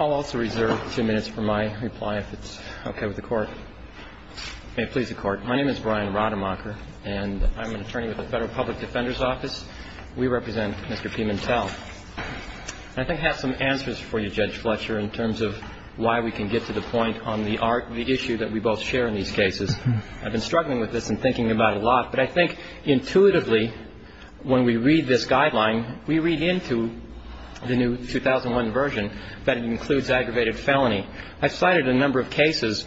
I'll also reserve two minutes for my reply, if it's okay with the Court. May it please the Court, my name is Brian Rademacher, and I'm an attorney with the Federal Public Defender's Office. We represent Mr. Pimentel. I think I have some answers for you, Judge Fletcher, in terms of why we can get to the point on the issue that we both share in these cases. I've been struggling with this and thinking about it a lot, but I think intuitively, when we read this guideline, we read into the new 2001 version that it includes aggravated felony. I've cited a number of cases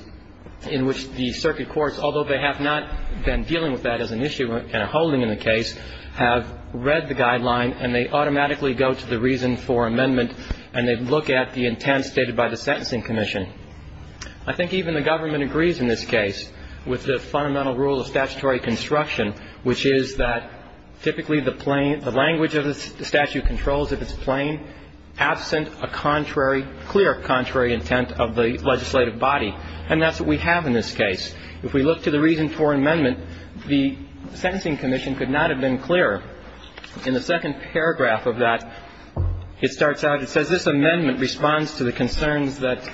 in which the circuit courts, although they have not been dealing with that as an issue and are holding in the case, have read the guideline and they automatically go to the reason for amendment and they look at the intent stated by the Sentencing Commission. I think even the government agrees in this case with the fundamental rule of statutory construction, which is that typically the language of the statute controls if it's plain, absent a clear contrary intent of the legislative body. And that's what we have in this case. If we look to the reason for amendment, the Sentencing Commission could not have been clearer. In the second paragraph of that, it starts out, it says, this amendment responds to the concerns that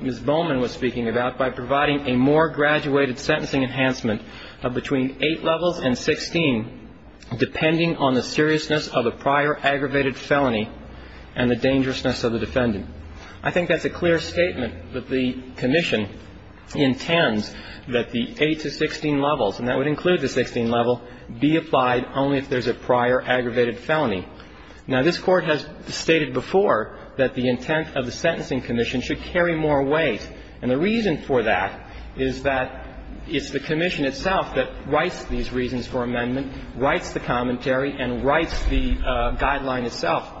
Ms. Bowman was speaking about by providing a more graduated sentencing enhancement of between 8 levels and 16, depending on the seriousness of a prior aggravated felony and the dangerousness of the defendant. I think that's a clear statement that the commission intends that the 8 to 16 levels, and that would include the 16 level, be applied only if there's a prior aggravated felony. Now, this Court has stated before that the intent of the Sentencing Commission should carry more weight. And the reason for that is that it's the commission itself that writes these reasons for amendment, writes the commentary, and writes the guideline itself.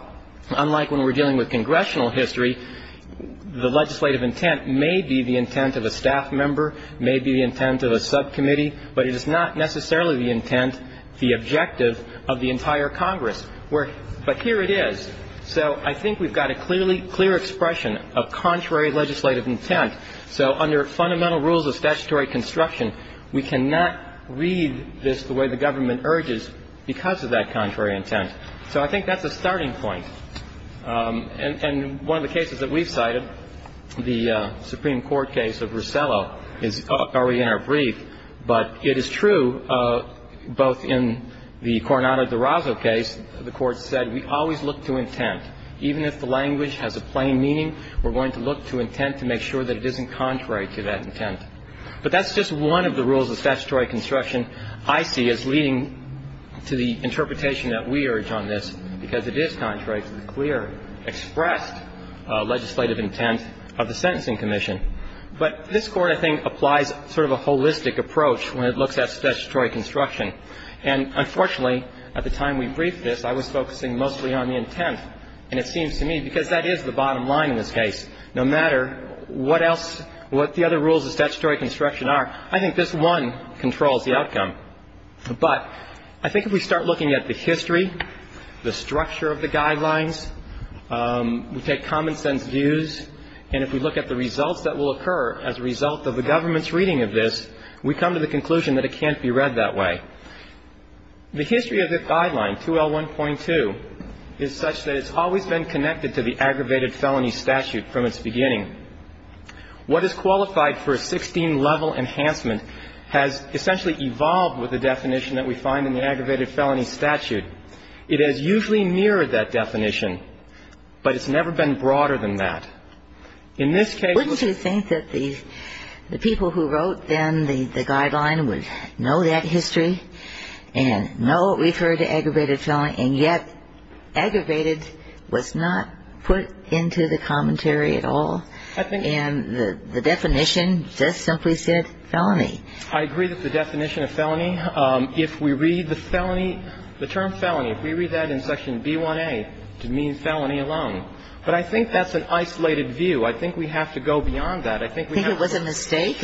Unlike when we're dealing with congressional history, the legislative intent may be the intent of a staff member, may be the intent of a subcommittee, but it is not necessarily the intent, the objective of the entire Congress. But here it is. So I think we've got a clearly clear expression of contrary legislative intent. So under fundamental rules of statutory construction, we cannot read this the way the government urges because of that contrary intent. So I think that's a starting point. And one of the cases that we've cited, the Supreme Court case of Rosello, is already in our brief. But it is true, both in the Coronado de Rosso case, the Court said we always look to intent. Even if the language has a plain meaning, we're going to look to intent to make sure that it isn't contrary to that intent. But that's just one of the rules of statutory construction I see as leading to the interpretation that we urge on this, because it is contrary to the clear expressed legislative intent of the Sentencing Commission. But this Court, I think, applies sort of a holistic approach when it looks at statutory construction. And unfortunately, at the time we briefed this, I was focusing mostly on the intent. And it seems to me, because that is the bottom line in this case, no matter what else the other rules of statutory construction are, I think this one controls the outcome. But I think if we start looking at the history, the structure of the guidelines, we take common sense views, and if we look at the results that will occur as a result of the government's reading of this, we come to the conclusion that it can't be read that way. The history of this guideline, 2L1.2, is such that it's always been connected to the aggravated felony statute from its beginning. What is qualified for a 16-level enhancement has essentially evolved with the definition that we find in the aggravated felony statute. It has usually mirrored that definition, but it's never been broader than that. In this case ---- Wouldn't you think that the people who wrote, then, the guideline would know that history and know it referred to aggravated felony, and yet aggravated was not put into the commentary at all? I think ---- And the definition just simply said felony. I agree with the definition of felony. If we read the felony, the term felony, if we read that in Section B1A, it means felony alone. But I think that's an isolated view. I think we have to go beyond that. I think we have to ---- Do you think it was a mistake?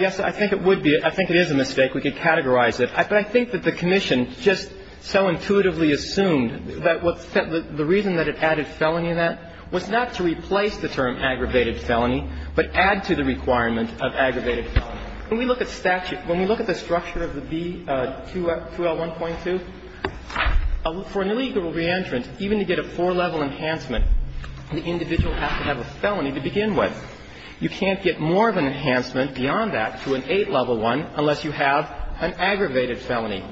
Yes, I think it would be. I think it is a mistake. We could categorize it. But I think that the commission just so intuitively assumed that the reason that it added felony in that was not to replace the term aggravated felony, but add to the requirement of aggravated felony. When we look at statute, when we look at the structure of the B2L1.2, for an illegal reentrant, even to get a four-level enhancement, the individual has to have a felony to begin with. You can't get more of an enhancement beyond that to an eight-level one unless you have an aggravated felony.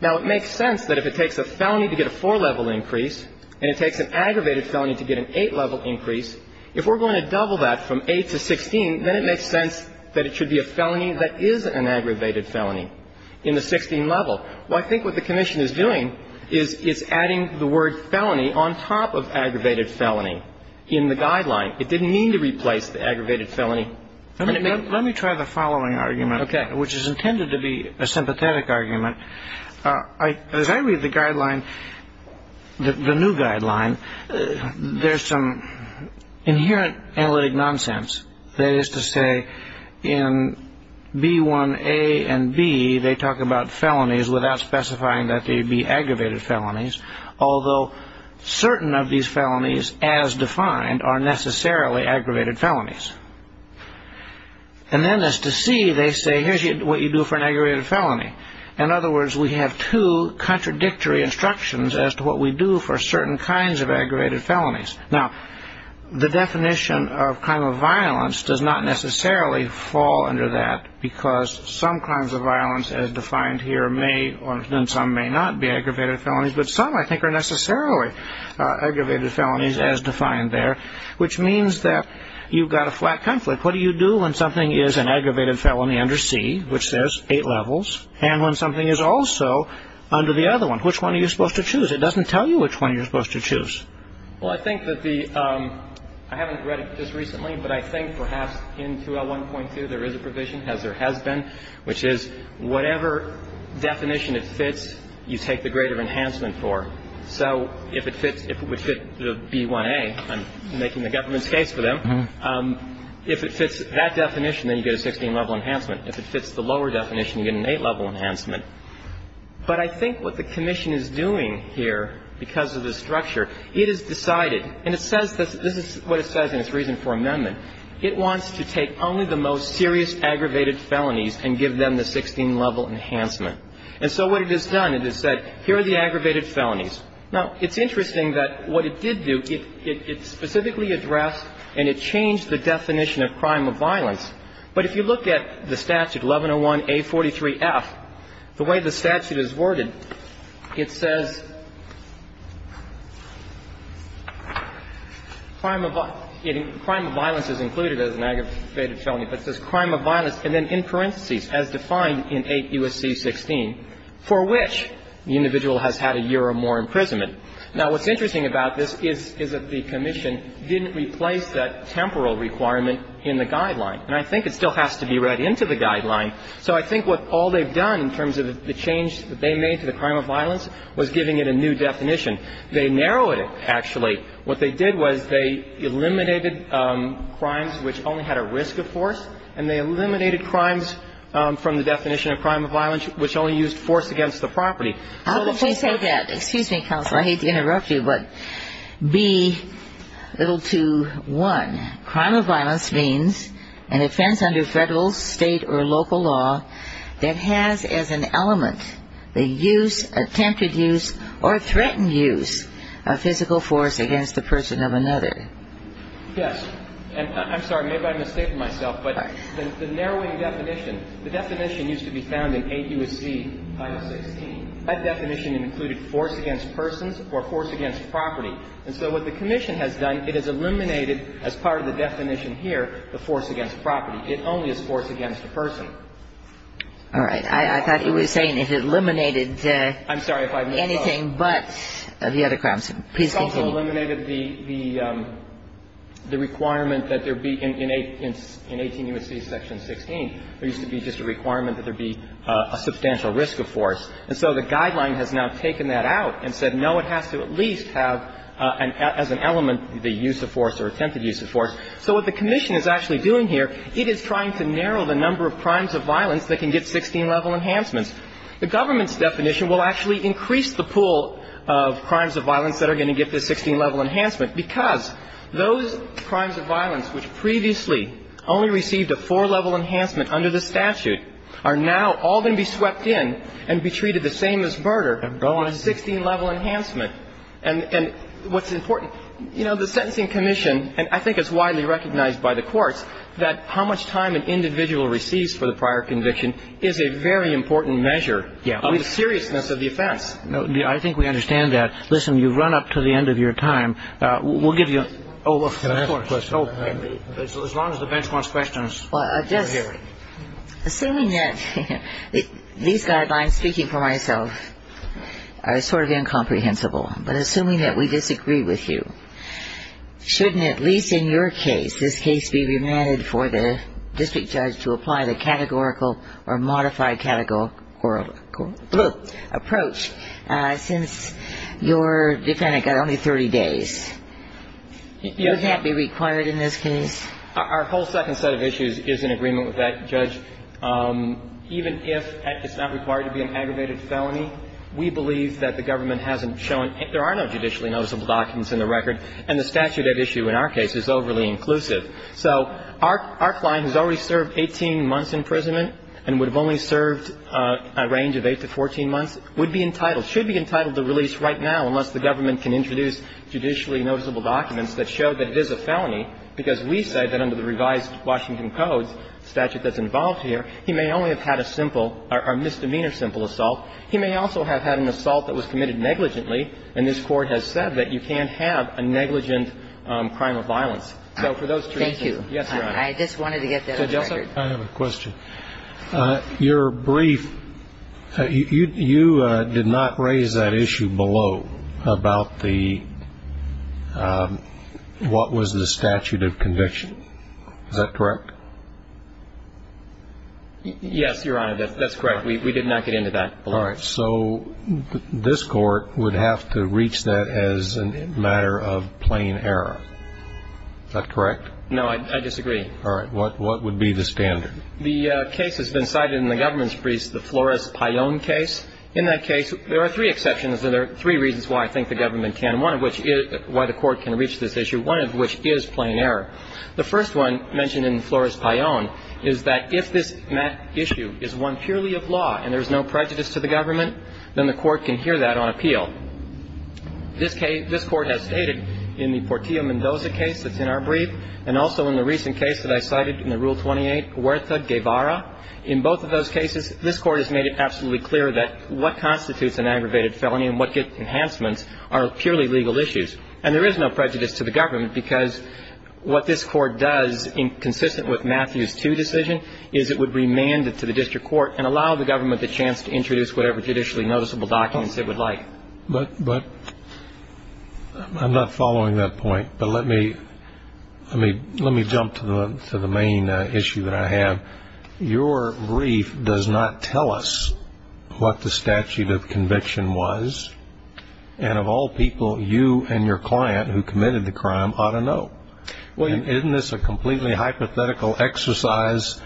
Now, it makes sense that if it takes a felony to get a four-level increase and it takes an aggravated felony to get an eight-level increase, if we're going to double that from eight to 16, then it makes sense that it should be a felony that is an aggravated felony in the 16 level. Well, I think what the commission is doing is it's adding the word felony on top of aggravated felony in the guideline. It didn't mean to replace the aggravated felony. Let me try the following argument. Okay. Which is intended to be a sympathetic argument. As I read the guideline, the new guideline, there's some inherent analytic nonsense. That is to say, in B1A and B, they talk about felonies without specifying that they would be aggravated felonies, although certain of these felonies, as defined, are necessarily aggravated felonies. And then as to C, they say, here's what you do for an aggravated felony. In other words, we have two contradictory instructions as to what we do for certain kinds of aggravated felonies. Now, the definition of crime of violence does not necessarily fall under that because some crimes of violence as defined here may or some may not be aggravated felonies, but some I think are necessarily aggravated felonies as defined there, which means that you've got a flat conflict. What do you do when something is an aggravated felony under C, which says eight levels, and when something is also under the other one? Which one are you supposed to choose? It doesn't tell you which one you're supposed to choose. Well, I think that the ‑‑ I haven't read it just recently, but I think perhaps in 2L1.2 there is a provision, as there has been, which is whatever definition it fits, you take the greater enhancement for. So if it fits, if it would fit the B1A, I'm making the government's case for them, if it fits that definition, then you get a 16-level enhancement. If it fits the lower definition, you get an eight-level enhancement. But I think what the commission is doing here because of the structure, it has decided ‑‑ and it says this, this is what it says in its reason for amendment. It wants to take only the most serious aggravated felonies and give them the 16-level enhancement. And so what it has done, it has said, here are the aggravated felonies. Now, it's interesting that what it did do, it specifically addressed and it changed the definition of crime of violence. But if you look at the statute, 1101A43F, the way the statute is worded, it says crime of ‑‑ crime of violence is included as an aggravated felony, but it says crime of violence, and then in parentheses, as defined in 8 U.S.C. 16, for which the individual has had a year or more imprisonment. Now, what's interesting about this is that the commission didn't replace that temporal requirement in the guideline. And I think it still has to be read into the guideline. So I think what all they've done in terms of the change that they made to the crime of violence was giving it a new definition. They narrowed it, actually. What they did was they eliminated crimes which only had a risk of force, and they eliminated crimes from the definition of crime of violence which only used force against the property. So if we say that ‑‑ excuse me, counsel. I hate to interrupt you, but be little to one, crime of violence means an offense under Federal, State, or local law that has as an element the use, attempted use, or threatened use of physical force against the person of another. Yes. And I'm sorry. Maybe I'm mistaking myself. But the narrowing definition, the definition used to be found in 8 U.S.C. 516. That definition included force against persons or force against property. And so what the commission has done, it has eliminated as part of the definition here the force against property. It only is force against the person. All right. I thought you were saying it eliminated anything but the other crimes. Please continue. It's also eliminated the requirement that there be in 18 U.S.C. section 16, there would be a substantial risk of force. And so the guideline has now taken that out and said, no, it has to at least have as an element the use of force or attempted use of force. So what the commission is actually doing here, it is trying to narrow the number of crimes of violence that can get 16-level enhancements. The government's definition will actually increase the pool of crimes of violence that are going to get the 16-level enhancement because those crimes of violence which previously only received a four-level enhancement under the statute are now all going to be swept in and be treated the same as murder on a 16-level enhancement. And what's important, you know, the sentencing commission, and I think it's widely recognized by the courts, that how much time an individual receives for the prior conviction is a very important measure of the seriousness of the offense. I think we understand that. Listen, you've run up to the end of your time. We'll give you a question. As long as the bench wants questions, we're here. Assuming that these guidelines, speaking for myself, are sort of incomprehensible, but assuming that we disagree with you, shouldn't at least in your case, this case be remanded for the district judge to apply the categorical or modified categorical approach since your defendant got only 30 days? Wouldn't that be required in this case? Our whole second set of issues is in agreement with that, Judge. Even if it's not required to be an aggravated felony, we believe that the government hasn't shown any – there are no judicially noticeable documents in the record, and the statute at issue in our case is overly inclusive. So our client has already served 18 months imprisonment and would have only served a range of 8 to 14 months, would be entitled – should be entitled to release right now unless the government can introduce judicially noticeable documents that show that it is a felony, because we say that under the revised Washington Code statute that's involved here, he may only have had a simple – a misdemeanor simple assault. He may also have had an assault that was committed negligently, and this Court has said that you can't have a negligent crime of violence. So for those two reasons – Thank you. Yes, Your Honor. I just wanted to get that on the record. Judge Elson, I have a question. Your brief – you did not raise that issue below about the – what was the statute of conviction. Is that correct? Yes, Your Honor. That's correct. We did not get into that. All right. So this Court would have to reach that as a matter of plain error. Is that correct? No, I disagree. All right. What would be the standard? The case has been cited in the government's briefs, the Flores-Payon case. In that case, there are three exceptions, and there are three reasons why I think the government can – one of which is why the Court can reach this issue, one of which is plain error. The first one, mentioned in Flores-Payon, is that if this issue is one purely of law and there is no prejudice to the government, then the Court can hear that on appeal. This case – this Court has stated in the Portillo-Mendoza case that's in our brief and also in the recent case that I cited in the Rule 28, Huerta-Guevara. In both of those cases, this Court has made it absolutely clear that what constitutes an aggravated felony and what get enhancements are purely legal issues. And there is no prejudice to the government because what this Court does, consistent with Matthews II's decision, is it would remand it to the district court and allow the government the chance to introduce whatever judicially noticeable documents it would like. But I'm not following that point. But let me jump to the main issue that I have. Your brief does not tell us what the statute of conviction was. And of all people, you and your client who committed the crime ought to know. Isn't this a completely hypothetical exercise?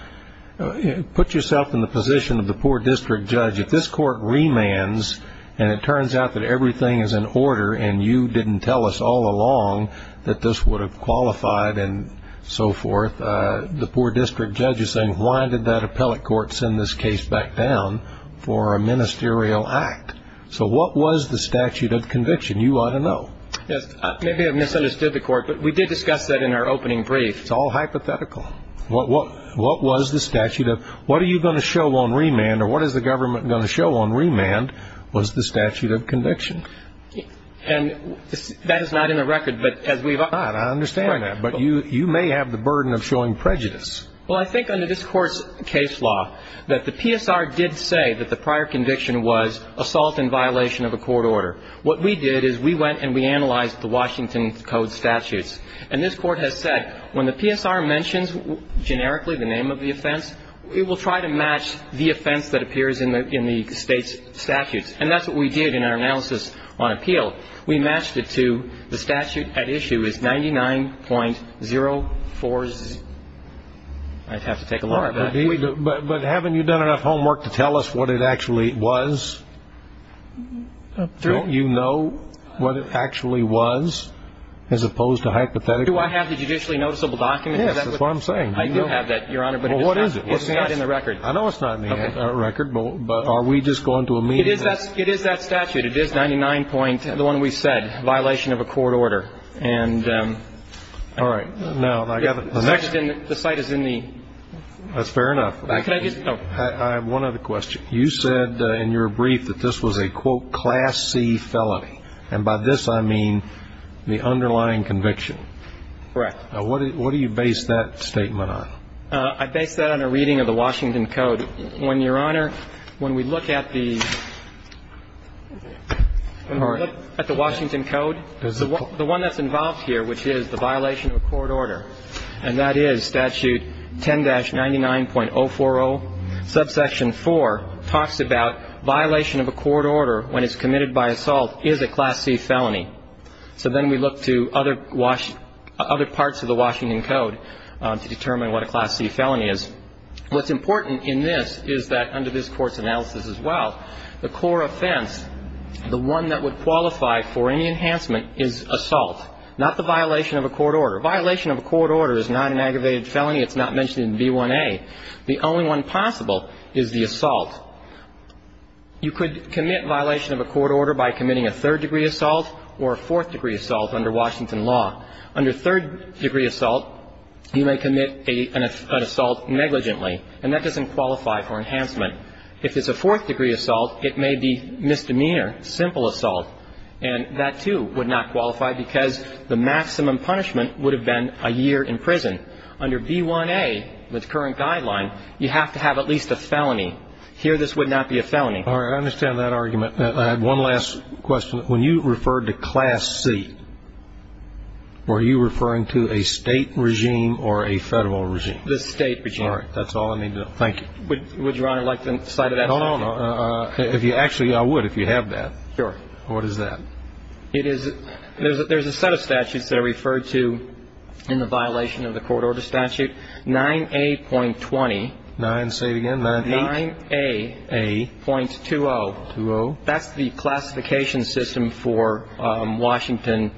Put yourself in the position of the poor district judge. If this Court remands and it turns out that everything is in order and you didn't tell us all along that this would have qualified and so forth, the poor district judge is saying, why did that appellate court send this case back down for a ministerial act? So what was the statute of conviction? You ought to know. Yes. Maybe I've misunderstood the Court, but we did discuss that in our opening brief. It's all hypothetical. What was the statute of what are you going to show on remand or what is the government going to show on remand was the statute of conviction. And that is not in the record. I understand that. But you may have the burden of showing prejudice. Well, I think under this Court's case law, that the PSR did say that the prior conviction was assault in violation of a court order. What we did is we went and we analyzed the Washington Code statutes. And this Court has said when the PSR mentions generically the name of the offense, it will try to match the offense that appears in the state's statutes. And that's what we did in our analysis on appeal. We matched it to the statute at issue is 99.040. I'd have to take a look at that. But haven't you done enough homework to tell us what it actually was? Don't you know what it actually was as opposed to hypothetical? Do I have the judicially noticeable document? Yes, that's what I'm saying. I do have that, Your Honor. Well, what is it? It's not in the record. I know it's not in the record. But are we just going to immediately? It is that statute. It is 99.0, the one we said, violation of a court order. All right. Now, I've got the next. The site is in the. That's fair enough. Can I just. I have one other question. You said in your brief that this was a, quote, class C felony. And by this I mean the underlying conviction. Correct. What do you base that statement on? I base that on a reading of the Washington Code. When, Your Honor, when we look at the Washington Code, the one that's involved here, which is the violation of a court order, and that is statute 10-99.040, subsection 4 talks about violation of a court order when it's committed by assault is a class C felony. So then we look to other parts of the Washington Code to determine what a class C felony is. What's important in this is that under this Court's analysis as well, the core offense, the one that would qualify for any enhancement is assault, not the violation of a court order. A violation of a court order is not an aggravated felony. It's not mentioned in B1A. The only one possible is the assault. You could commit violation of a court order by committing a third-degree assault or a fourth-degree assault under Washington law. Under third-degree assault, you may commit an assault negligently, and that doesn't qualify for enhancement. If it's a fourth-degree assault, it may be misdemeanor, simple assault, and that, too, would not qualify because the maximum punishment would have been a year in prison. Under B1A, the current guideline, you have to have at least a felony. Here, this would not be a felony. All right. I understand that argument. I have one last question. When you referred to class C, were you referring to a State regime or a Federal regime? The State regime. All right. That's all I need to know. Thank you. Would Your Honor like to cite that? No, no, no. Actually, I would if you have that. Sure. What is that? There's a set of statutes that are referred to in the violation of the court order statute. 9A.20. 9, say it again, 9A? 9A.20. 2-0. That's the classification system for Washington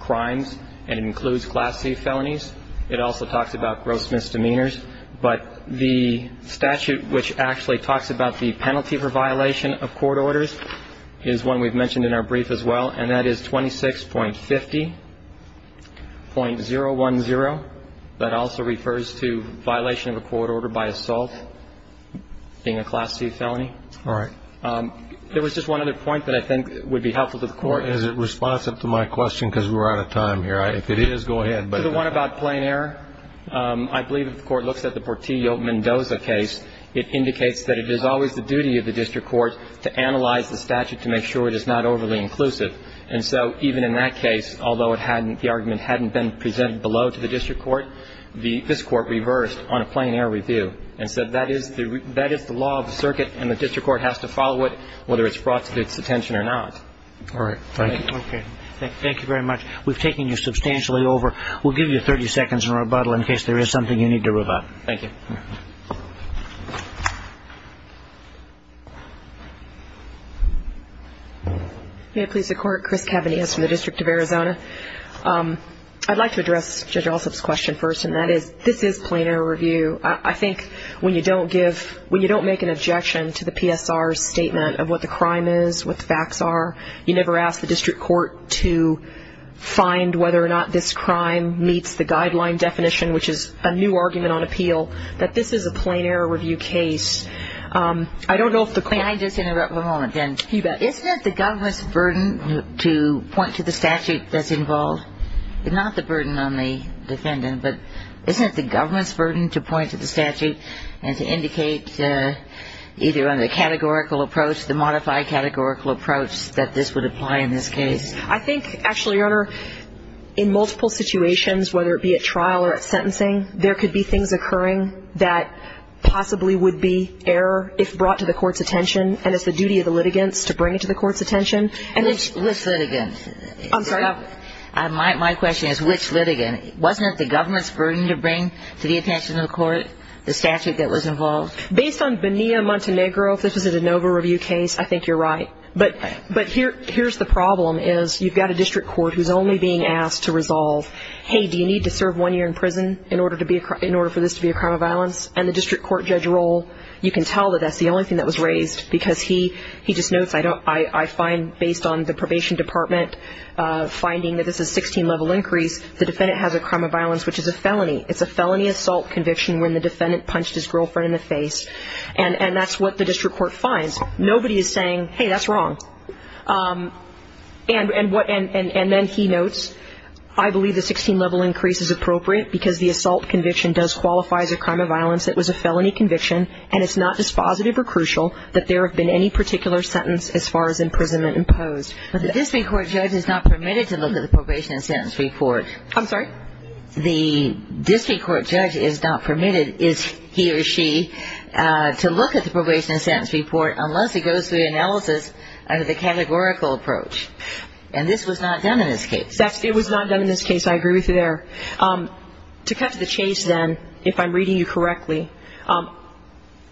crimes, and it includes class C felonies. It also talks about gross misdemeanors. But the statute which actually talks about the penalty for violation of court orders is one we've mentioned in our brief as well, and that is 26.50.010. That also refers to violation of a court order by assault, being a class C felony. All right. There was just one other point that I think would be helpful to the Court. Is it responsive to my question? Because we're out of time here. If it is, go ahead. The one about plain error, I believe if the Court looks at the Portillo-Mendoza case, it indicates that it is always the duty of the district court to analyze the statute to make sure it is not overly inclusive. And so even in that case, although the argument hadn't been presented below to the district court, this Court reversed on a plain error review and said that is the law of the circuit, and the district court has to follow it whether it's brought to its attention or not. All right. Thank you. Okay. Thank you very much. We've taken you substantially over. We'll give you 30 seconds in rebuttal in case there is something you need to rebut. Thank you. May it please the Court? Chris Cavanius from the District of Arizona. I'd like to address Judge Alsop's question first, and that is this is plain error review. I think when you don't make an objection to the PSR's statement of what the crime is, what the facts are, you never ask the district court to find whether or not this crime meets the guideline definition, which is a new argument on appeal, that this is a plain error review case. I don't know if the court ---- May I just interrupt for a moment, then? You bet. Isn't it the government's burden to point to the statute that's involved? Not the burden on the defendant, but isn't it the government's burden to point to the statute and to indicate either on the categorical approach, the modified categorical approach, that this would apply in this case? I think, actually, Your Honor, in multiple situations, whether it be at trial or at sentencing, there could be things occurring that possibly would be error if brought to the court's attention, and it's the duty of the litigants to bring it to the court's attention. Which litigant? I'm sorry? My question is, which litigant? Wasn't it the government's burden to bring to the attention of the court the statute that was involved? Based on Bonilla-Montenegro, if this was a de novo review case, I think you're right. But here's the problem is you've got a district court who's only being asked to resolve, hey, do you need to serve one year in prison in order for this to be a crime of violence? And the district court judge role, you can tell that that's the only thing that was raised because he just notes, I find, based on the probation department finding that this is a 16-level increase, the defendant has a crime of violence, which is a felony. It's a felony assault conviction when the defendant punched his girlfriend in the face. And that's what the district court finds. Nobody is saying, hey, that's wrong. And then he notes, I believe the 16-level increase is appropriate because the assault conviction does qualify as a crime of violence. It was a felony conviction, and it's not dispositive or crucial that there have been any particular sentence as far as imprisonment imposed. But the district court judge is not permitted to look at the probation and sentence report. I'm sorry? The district court judge is not permitted, is he or she, to look at the probation and sentence report unless he goes through the analysis of the categorical approach. And this was not done in this case. It was not done in this case. I agree with you there. To cut to the chase, then, if I'm reading you correctly,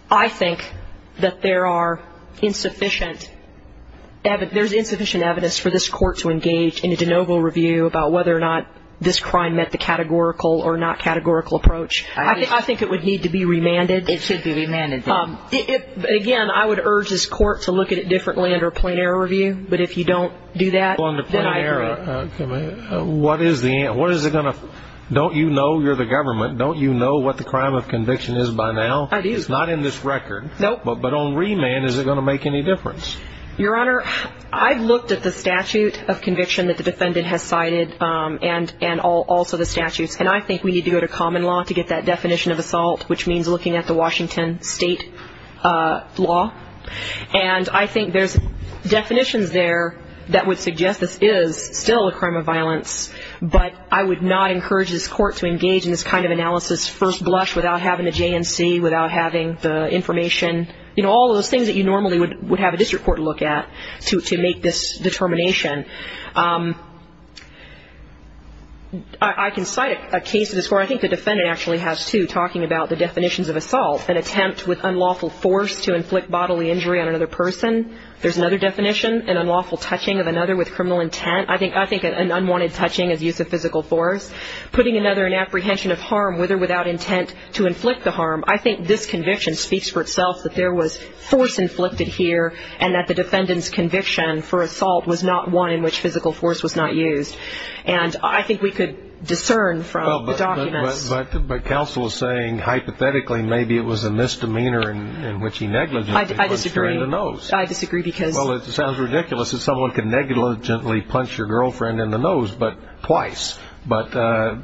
I think that there are insufficient, there's insufficient evidence for this court to engage in a de novo review about whether or not this crime met the categorical or not categorical approach. I think it would need to be remanded. It should be remanded. Again, I would urge this court to look at it differently under a plain error review. But if you don't do that, then I agree. What is the, what is it going to, don't you know you're the government? Don't you know what the crime of conviction is by now? I do. It's not in this record. Nope. But on remand, is it going to make any difference? Your Honor, I've looked at the statute of conviction that the defendant has cited and also the statutes, and I think we need to go to common law to get that definition of assault, which means looking at the Washington state law. And I think there's definitions there that would suggest this is still a crime of violence, but I would not encourage this court to engage in this kind of analysis first blush without having a JNC, without having the information, you know, all those things that you normally would have a district court look at to make this determination. I can cite a case in this court, I think the defendant actually has too, talking about the definitions of assault, an attempt with unlawful force to inflict bodily injury on another person. There's another definition, an unlawful touching of another with criminal intent. I think an unwanted touching is use of physical force. Putting another in apprehension of harm with or without intent to inflict the harm. I think this conviction speaks for itself that there was force inflicted here and that the defendant's conviction for assault was not one in which physical force was not used. And I think we could discern from the documents. But counsel is saying hypothetically maybe it was a misdemeanor in which he negligently punched her in the nose. I disagree. I disagree because. Well, it sounds ridiculous that someone could negligently punch your girlfriend in the nose, but twice. But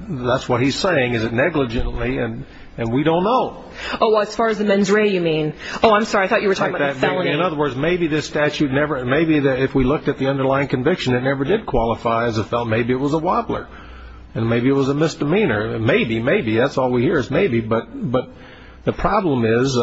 that's what he's saying, is it negligently, and we don't know. Oh, as far as the mens rea you mean. Oh, I'm sorry, I thought you were talking about the felony. In other words, maybe this statute never, maybe if we looked at the underlying conviction, it never did qualify as a felony. Maybe it was a wobbler. And maybe it was a misdemeanor. Maybe, maybe, that's all we hear is maybe. But the problem is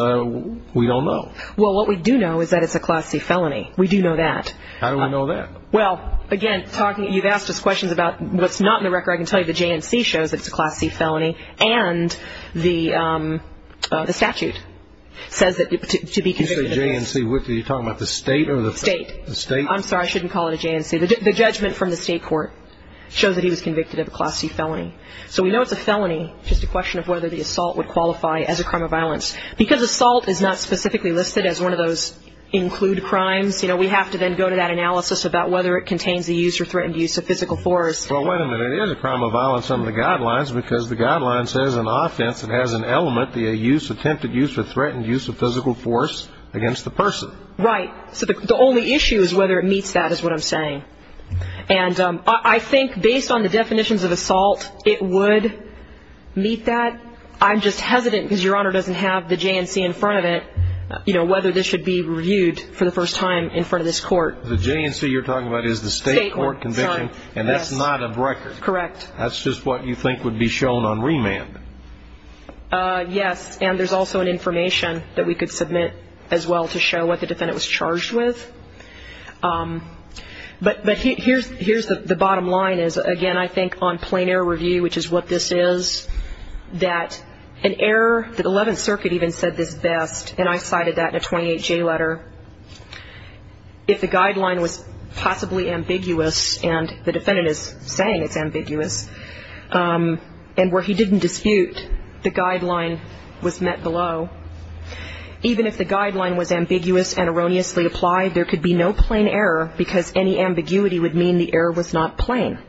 we don't know. Well, what we do know is that it's a Class C felony. We do know that. How do we know that? Well, again, talking, you've asked us questions about what's not in the record. I can tell you the JNC shows that it's a Class C felony, and the statute says that to be convicted of this. You say JNC. Are you talking about the state or the? State. The state. I'm sorry, I shouldn't call it a JNC. The judgment from the state court shows that he was convicted of a Class C felony. So we know it's a felony. It's just a question of whether the assault would qualify as a crime of violence. Because assault is not specifically listed as one of those include crimes, you know, we have to then go to that analysis about whether it contains the use or threatened use of physical force. Well, wait a minute. It is a crime of violence under the guidelines because the guidelines says in offense it has an element, the attempted use or threatened use of physical force against the person. Right. So the only issue is whether it meets that is what I'm saying. And I think based on the definitions of assault, it would meet that. I'm just hesitant because Your Honor doesn't have the JNC in front of it, you know, whether this should be reviewed for the first time in front of this court. The JNC you're talking about is the state court conviction. State court, sorry. And that's not a record. Correct. That's just what you think would be shown on remand. Yes. And there's also an information that we could submit as well to show what the defendant was charged with. But here's the bottom line is, again, I think on plain error review, which is what this is, that an error, the Eleventh Circuit even said this best, and I cited that in a 28J letter, if the guideline was possibly ambiguous, and the defendant is saying it's ambiguous, and where he didn't dispute the guideline was met below, even if the guideline was ambiguous and erroneously applied, there could be no plain error because any ambiguity would mean the error was not plain.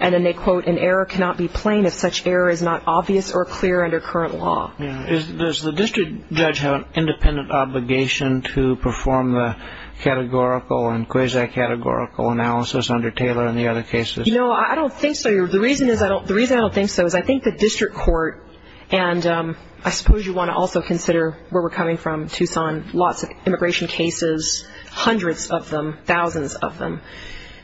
And then they quote, an error cannot be plain if such error is not obvious or clear under current law. Does the district judge have an independent obligation to perform the categorical and quasi-categorical analysis under Taylor and the other cases? You know, I don't think so. The reason I don't think so is I think the district court, and I suppose you want to also consider where we're coming from, Tucson, lots of immigration cases, hundreds of them, thousands of them,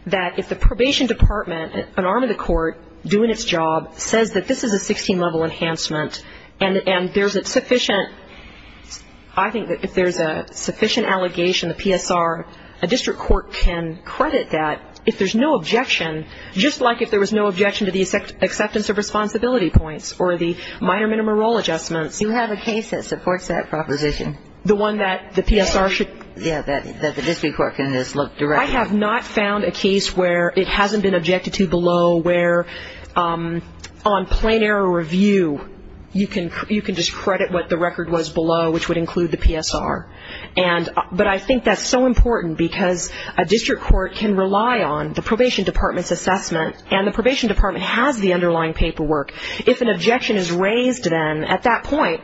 that if the probation department, an arm of the court doing its job, says that this is a 16-level enhancement and there's a sufficient, I think that if there's a sufficient allegation, the PSR, a district court can credit that if there's no objection, just like if there was no objection to the acceptance of responsibility points or the minor minimum role adjustments. You have a case that supports that proposition. The one that the PSR should? Yeah, that the district court can just look directly. I have not found a case where it hasn't been objected to below where on plain error review you can just credit what the record was below, which would include the PSR. But I think that's so important because a district court can rely on the probation department's assessment and the probation department has the underlying paperwork. If an objection is raised then at that point,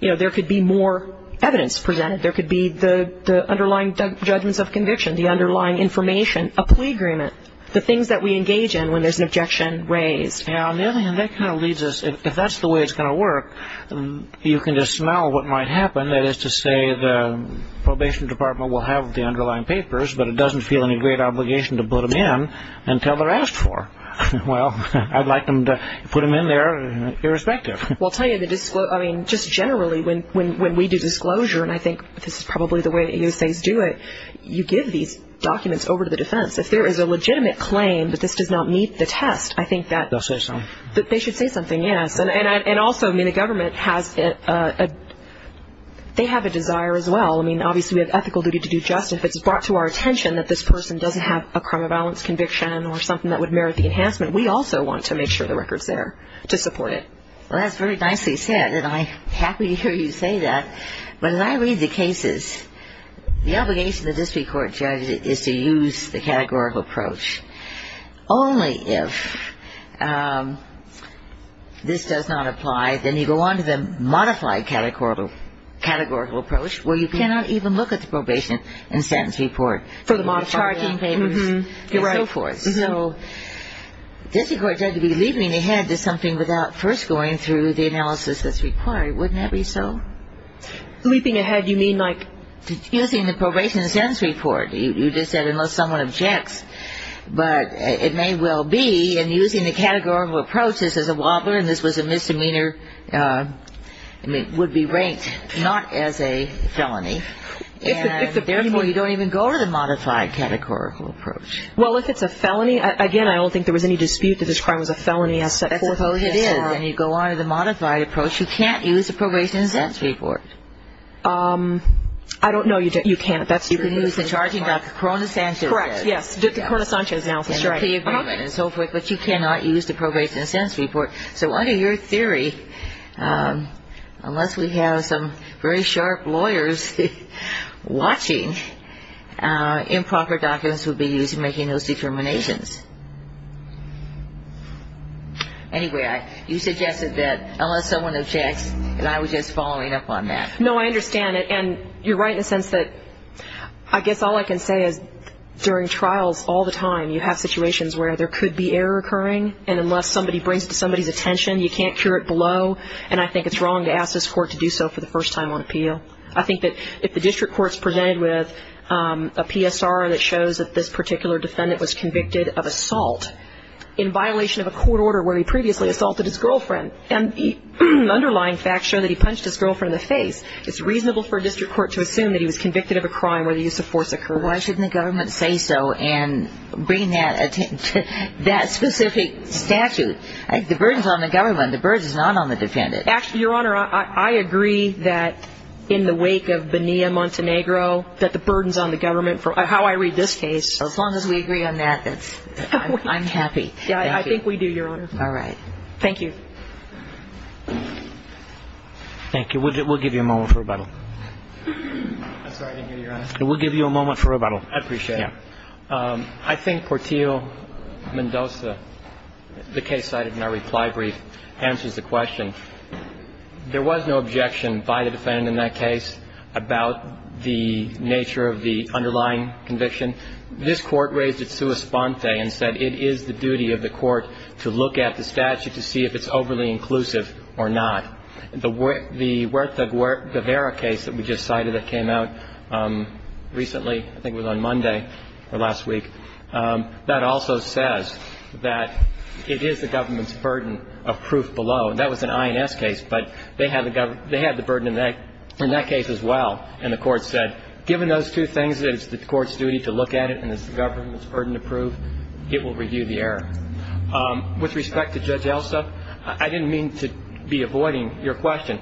you know, there could be more evidence presented. There could be the underlying judgments of conviction, the underlying information, a plea agreement, the things that we engage in when there's an objection raised. Yeah, on the other hand, that kind of leads us, if that's the way it's going to work, you can just smell what might happen, that is to say the probation department will have the underlying papers but it doesn't feel any great obligation to put them in until they're asked for. Well, I'd like them to put them in there irrespective. I mean, just generally when we do disclosure, and I think this is probably the way the U.S.A.s do it, you give these documents over to the defense. If there is a legitimate claim that this does not meet the test, I think that they should say something, yes. And also, I mean, the government has a desire as well. I mean, obviously we have ethical duty to do justice. If it's brought to our attention that this person doesn't have a crime of violence conviction or something that would merit the enhancement, we also want to make sure the record's there to support it. Well, that's very nicely said, and I'm happy to hear you say that. But as I read the cases, the obligation of the district court judge is to use the categorical approach. Only if this does not apply, then you go on to the modified categorical approach where you cannot even look at the probation and sentence report. For the modified documents. Charging papers and so forth. So district court judge would be leaping ahead to something without first going through the analysis that's required. Wouldn't that be so? Leaping ahead, you mean like? Using the probation and sentence report. You just said unless someone objects. But it may well be, and using the categorical approach, this is a wobbler and this was a misdemeanor, I mean, would be ranked not as a felony. And therefore you don't even go to the modified categorical approach. Well, if it's a felony, again, I don't think there was any dispute that this crime was a felony as set forth. It is. When you go on to the modified approach, you can't use the probation and sentence report. I don't know you can't. You can use the charging documents. Correct, yes. The Corona Sanchez analysis. And the plea agreement and so forth. But you cannot use the probation and sentence report. So under your theory, unless we have some very sharp lawyers watching, improper documents would be used in making those determinations. Anyway, you suggested that unless someone objects, that I was just following up on that. No, I understand. And you're right in the sense that I guess all I can say is during trials all the time, you have situations where there could be error occurring. And unless somebody brings it to somebody's attention, you can't cure it below. And I think it's wrong to ask this court to do so for the first time on appeal. I think that if the district court is presented with a PSR that shows that this particular defendant was convicted of assault in violation of a court order where he previously assaulted his girlfriend, and underlying facts show that he punched his girlfriend in the face, it's reasonable for a district court to assume that he was convicted of a crime where the use of force occurred. Why shouldn't the government say so and bring that specific statute? The burden's on the government. The burden's not on the defendant. Your Honor, I agree that in the wake of Bonilla-Montenegro, that the burden's on the government. How I read this case, as long as we agree on that, I'm happy. Yeah, I think we do, Your Honor. All right. Thank you. Thank you. We'll give you a moment for rebuttal. I'm sorry, I didn't hear you, Your Honor. We'll give you a moment for rebuttal. I appreciate it. Yeah. I think Portillo-Mendoza, the case cited in our reply brief, answers the question. There was no objection by the defendant in that case about the nature of the underlying conviction. This Court raised it sua sponte and said it is the duty of the Court to look at the statute to see if it's overly inclusive or not. The Huerta-Guevara case that we just cited that came out recently, I think it was on Monday or last week, that also says that it is the government's burden of proof below. And that was an INS case, but they had the burden in that case as well. And the Court said, given those two things, that it's the Court's duty to look at it, and it's the government's burden to prove, it will review the error. With respect to Judge Elsa, I didn't mean to be avoiding your question.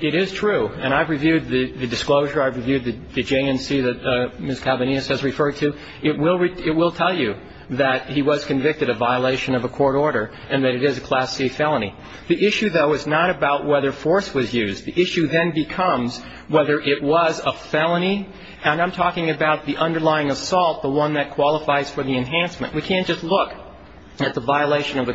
It is true, and I've reviewed the disclosure. I've reviewed the JNC that Ms. Calvinius has referred to. It will tell you that he was convicted of violation of a court order and that it is a Class C felony. The issue, though, is not about whether force was used. The issue then becomes whether it was a felony, and I'm talking about the underlying assault, the one that qualifies for the enhancement. We can't just look at the violation of the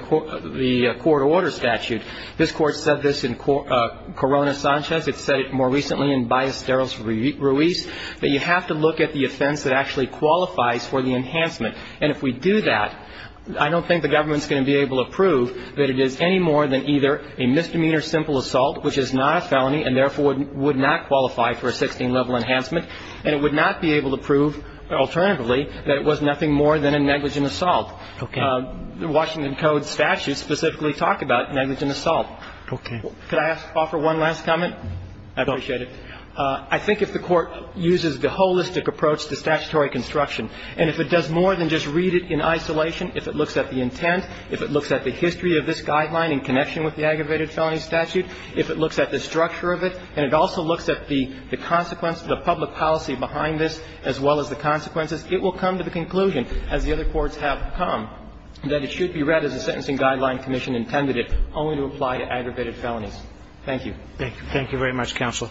court order statute. This Court said this in Corona Sanchez. It said it more recently in Ballesteros Ruiz, that you have to look at the offense that actually qualifies for the enhancement. And if we do that, I don't think the government's going to be able to prove that it is any more than either a misdemeanor simple assault, which is not a felony and therefore would not qualify for a 16-level enhancement, and it would not be able to prove alternatively that it was nothing more than a negligent assault. The Washington Code statutes specifically talk about negligent assault. Could I offer one last comment? I appreciate it. I think if the Court uses the holistic approach to statutory construction and if it does more than just read it in isolation, if it looks at the intent, if it looks at the history of this guideline in connection with the aggravated felony statute, if it looks at the structure of it, and it also looks at the consequence of the public policy behind this, as well as the consequences, it will come to the conclusion, as the other courts have come, that it should be read as the Sentencing Guideline Commission intended it, only to apply to aggravated felonies. Thank you. Thank you very much, Counsel.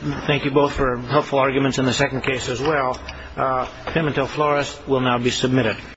Thank you both for helpful arguments in the second case as well. Pimientel-Flores will now be submitted.